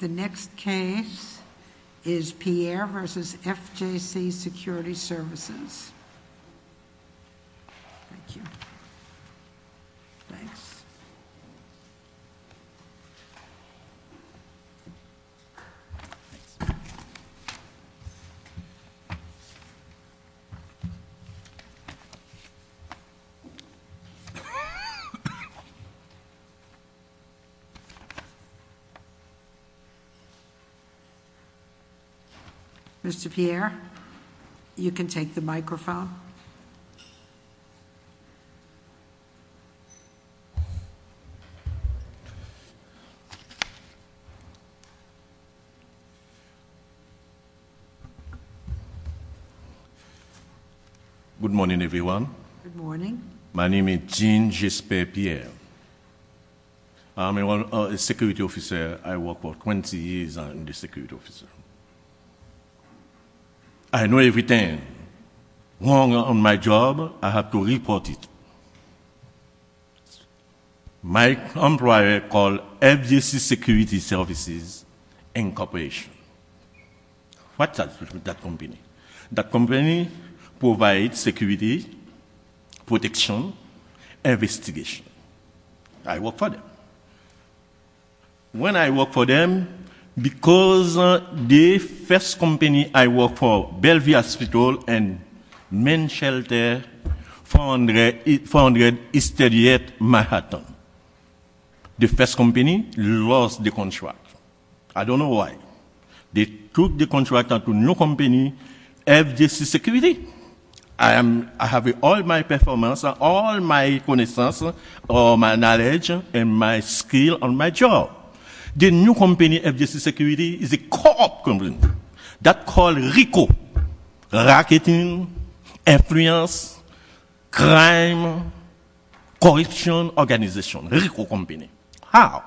The next case is Pierre v. FJC Security Services. Thank you. Thanks. Mr. Pierre, you can take the microphone. Good morning, everyone. Good morning. My name is Jean-Jesper Pierre. I'm a security officer. I worked for 20 years as a security officer. I know everything. When I'm on my job, I have to report it. My employer called FJC Security Services Incorporation. What does that company do? That company provides security, protection, investigation. I work for them. When I work for them, because the first company I worked for, Bellevue Hospital and Main Shelter, founded in 1938 in Manhattan. The first company lost the contract. I don't know why. They took the contract to a new company, FJC Security. I have all my performance, all my connaissance, all my knowledge, and my skills on my job. The new company, FJC Security, is a co-op company. That's called RICO. Racketing, Influence, Crime, Corruption Organization. RICO company. How?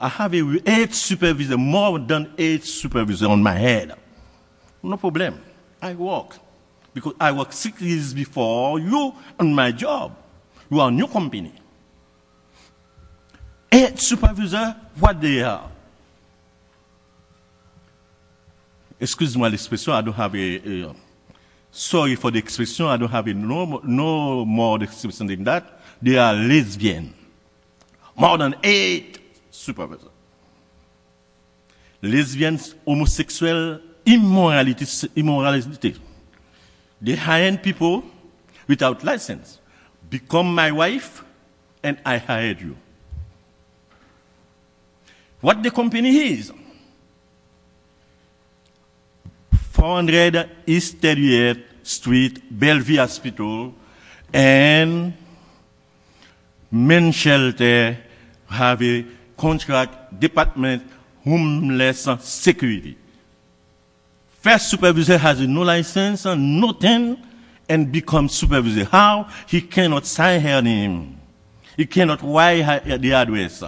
I have eight supervisors. More than eight supervisors on my head. No problem. I work. Because I worked six years before you on my job. You are a new company. Eight supervisors. What are they? Excuse my expression. I don't have a... Sorry for the expression. I don't have a normal expression like that. They are lesbians. More than eight supervisors. Lesbians, homosexuals, immoralities, immorality. They hire people without license. Become my wife and I hire you. What the company is? 400 East 38th Street, Bellevue Hospital. And main shelter have a contract department homeless security. First supervisor has no license, nothing, and become supervisor. How? He cannot sign her name. He cannot write the address.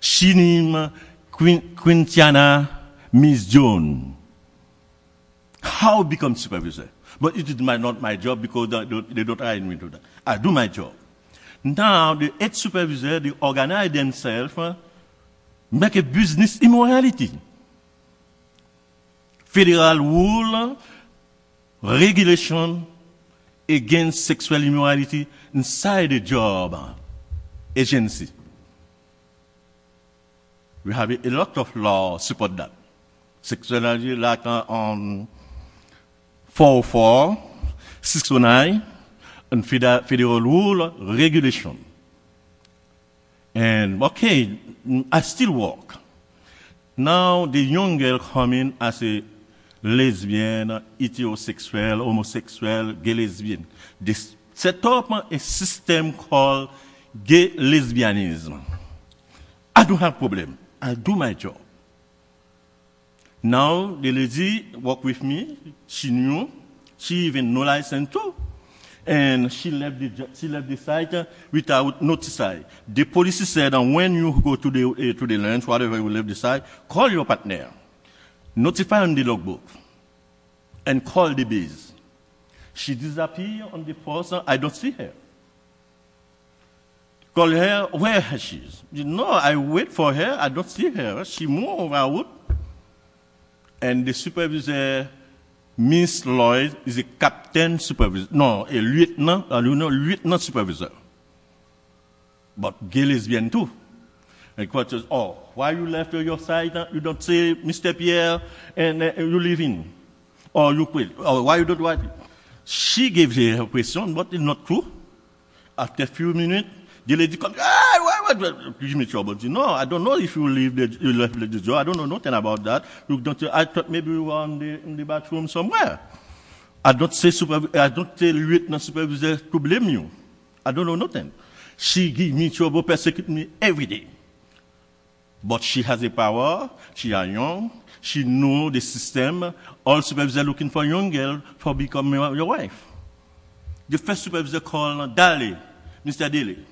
She name Quintana Miss Jones. How become supervisor? But it is not my job because they don't hire me to do that. I do my job. Now, the eight supervisors, they organize themselves, make a business immorality. Federal rule, regulation against sexual immorality inside the job agency. We have a lot of laws support that. Sexual immorality like 404, 609, and federal rule, regulation. And okay, I still work. Now, the young girl come in as a lesbian, heterosexual, homosexual, gay lesbian. They set up a system called gay lesbianism. I don't have problem. I do my job. Now, the lady work with me. She knew. She even no license too. And she left the site without notify. The policy said that when you go to the lunch, whatever, you will leave the site. Call your partner. Notify on the logbook. And call the base. She disappear on the first. I don't see her. Call her where she is. You know, I wait for her. I don't see her. She move around. And the supervisor, Ms. Lloyd, is a captain supervisor. No, a lieutenant. Lieutenant supervisor. But gay lesbian too. And question, oh, why you left your site? You don't see Mr. Pierre? And you leave him? Or you quit? Or why you don't work? She gave her a question, but it's not true. After a few minutes, the lady come. Why, why, why? Give me trouble. You know, I don't know if you leave the job. I don't know nothing about that. I thought maybe you were in the bathroom somewhere. I don't say supervisor. I don't tell lieutenant supervisor to blame you. I don't know nothing. She give me trouble, persecute me every day. But she has a power. She are young. She know the system. All supervisors are looking for young girl for becoming your wife. The first supervisor called Daly, Mr. Daly.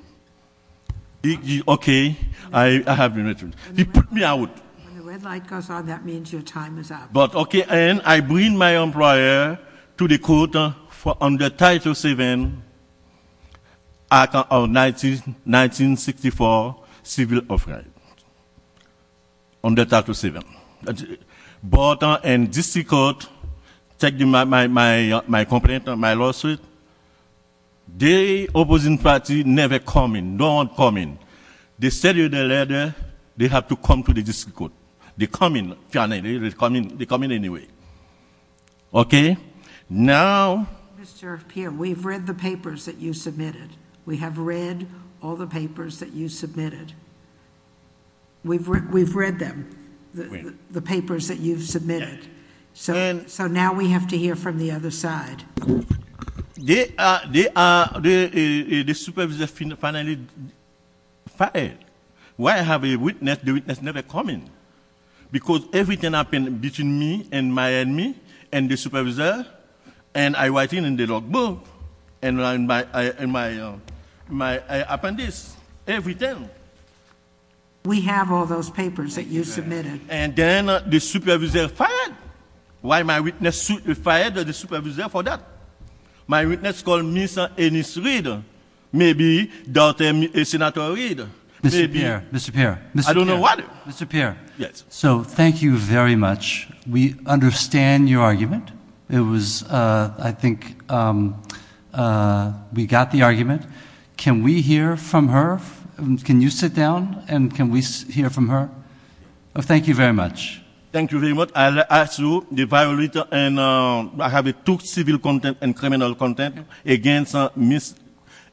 He, okay, I have been mentioned. He put me out. When the red light goes on, that means your time is up. But, okay, and I bring my employer to the court for under Title VII, Act of 1964, civil off-right. Under Title VII. But in district court, take my complaint, my lawsuit. The opposing party never come in, don't come in. They send you the letter, they have to come to the district court. They come in, they come in anyway. Okay? Now... Mr. Pierre, we've read the papers that you submitted. We have read all the papers that you submitted. We've read them. We've read the papers that you've submitted. So now we have to hear from the other side. They are... The supervisor finally fired. Why have a witness? The witness never come in. Because everything happen between me and my enemy and the supervisor and I writing in the log book and my appendix. Everything. We have all those papers that you submitted. And then the supervisor fired. Why my witness fired the supervisor for that? My witness called Ms. Ennis Reid. Maybe Dr. Ennis Reid. Mr. Pierre, Mr. Pierre. I don't know why. Mr. Pierre. Yes. So, thank you very much. We understand your argument. It was, I think, we got the argument. Can we hear from her? Can you sit down and can we hear from her? Thank you very much. Thank you very much. I'll ask you the violator and I have two civil content and criminal content against Ms.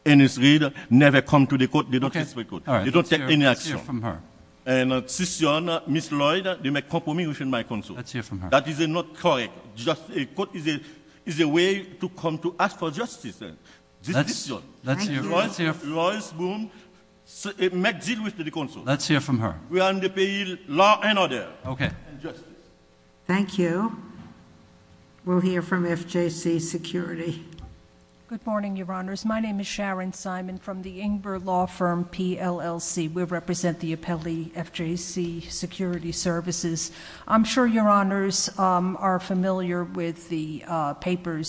Ennis Reid. Never come to the court. They don't take any action. Let's hear from her. And Cicion, Ms. Lloyd, they make compromise with my counsel. Let's hear from her. That is not correct. A court is a way to come to ask for justice. Cicion, Ms. Lloyd, make deal with the counsel. Let's hear from her. We underpin law and order. Okay. And justice. Thank you. We'll hear from FJC Security. Good morning, Your Honors. My name is Sharon Simon from the Ingber Law Firm, PLLC. We represent the appellee, FJC Security Services. I'm sure Your Honors are familiar with the papers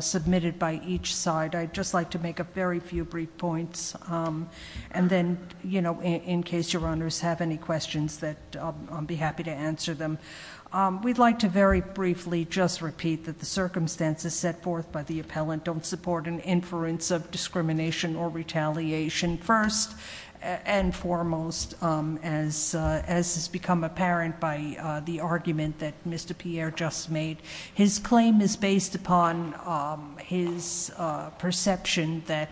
submitted by each side. I'd just like to make a very few brief points. And then, you know, in case Your Honors have any questions that I'll be happy to answer them. We'd like to very briefly just repeat that the circumstances set forth by the appellant don't support an inference of discrimination or retaliation. First and foremost, as has become apparent by the argument that Mr. Pierre just made, his claim is based upon his perception that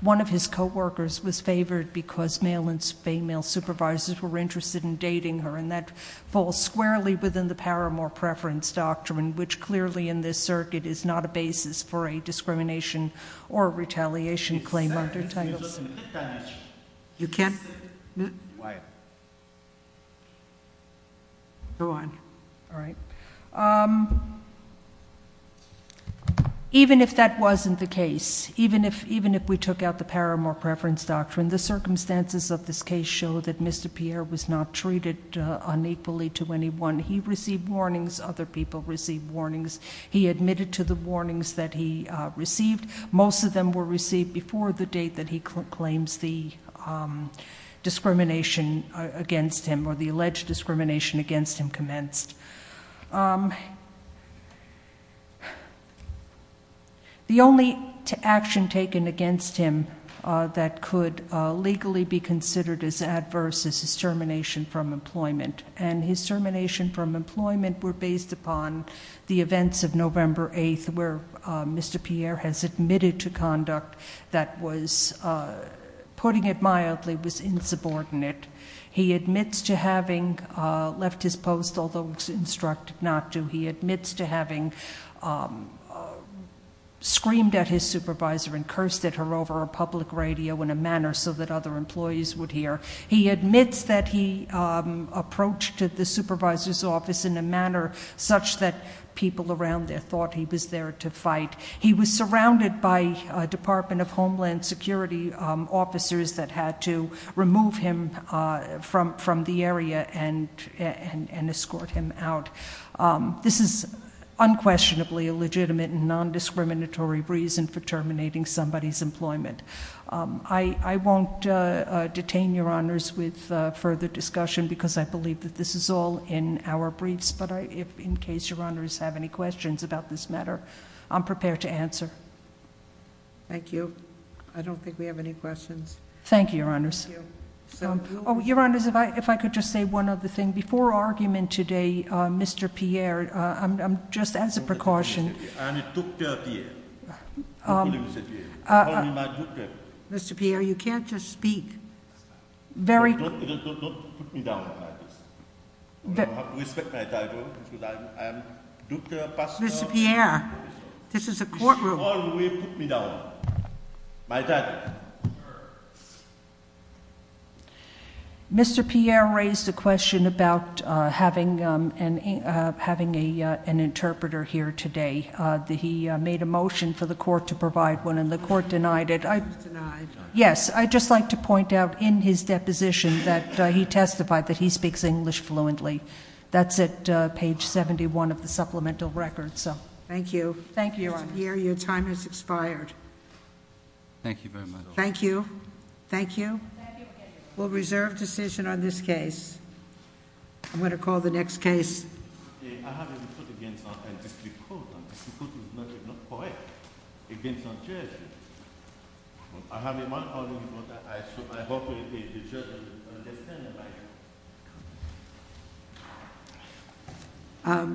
one of his coworkers was favored because male and female supervisors were interested in dating her. And that falls squarely within the power of more preference doctrine, which clearly in this circuit is not a basis for a discrimination or retaliation claim under Title VII. You can't. Why? Go on. All right. Even if that wasn't the case, even if we took out the power of more preference doctrine, the circumstances of this case show that Mr. Pierre was not treated unequally to anyone. He received warnings. Other people received warnings. He admitted to the warnings that he received. Most of them were received before the date that he claims the discrimination against him or the alleged discrimination against him commenced. The only action taken against him that could legally be considered as adverse is his termination from employment. And his termination from employment were based upon the events of November 8th where Mr. Pierre has admitted to conduct that was, putting it mildly, was insubordinate. He admits to having left his post, although instructed not to. He admits to having screamed at his supervisor and cursed at her over a public radio in a manner so that other employees would hear. He admits that he approached the supervisor's office in a manner such that people around there thought he was there to fight. He was surrounded by Department of Homeland Security officers that had to remove him from the area and escort him out. This is unquestionably a legitimate and non-discriminatory reason for terminating somebody's employment. I won't detain your honors with further discussion because I believe that this is all in our briefs. But in case your honors have any questions about this matter, I'm prepared to answer. Thank you. I don't think we have any questions. Thank you, your honors. Your honors, if I could just say one other thing. Before argument today, Mr. Pierre, just as a precaution. Mr. Pierre, you can't just speak. Very- Don't put me down like this. You don't have to respect my title. Mr. Pierre, this is a courtroom. You should always put me down. My title. Mr. Pierre raised a question about having an interpreter here today. He made a motion for the court to provide one, and the court denied it. Denied. Yes, I'd just like to point out in his deposition that he testified that he speaks English fluently. That's at page 71 of the supplemental record, so. Thank you. Thank you, your honor. Mr. Pierre, your time has expired. Thank you very much. Thank you. Thank you. We'll reserve decision on this case. I'm going to call the next case. I have a report against a district court. A district court is not correct. Against a judge. I have one comment about that. I hope the judge will understand about that.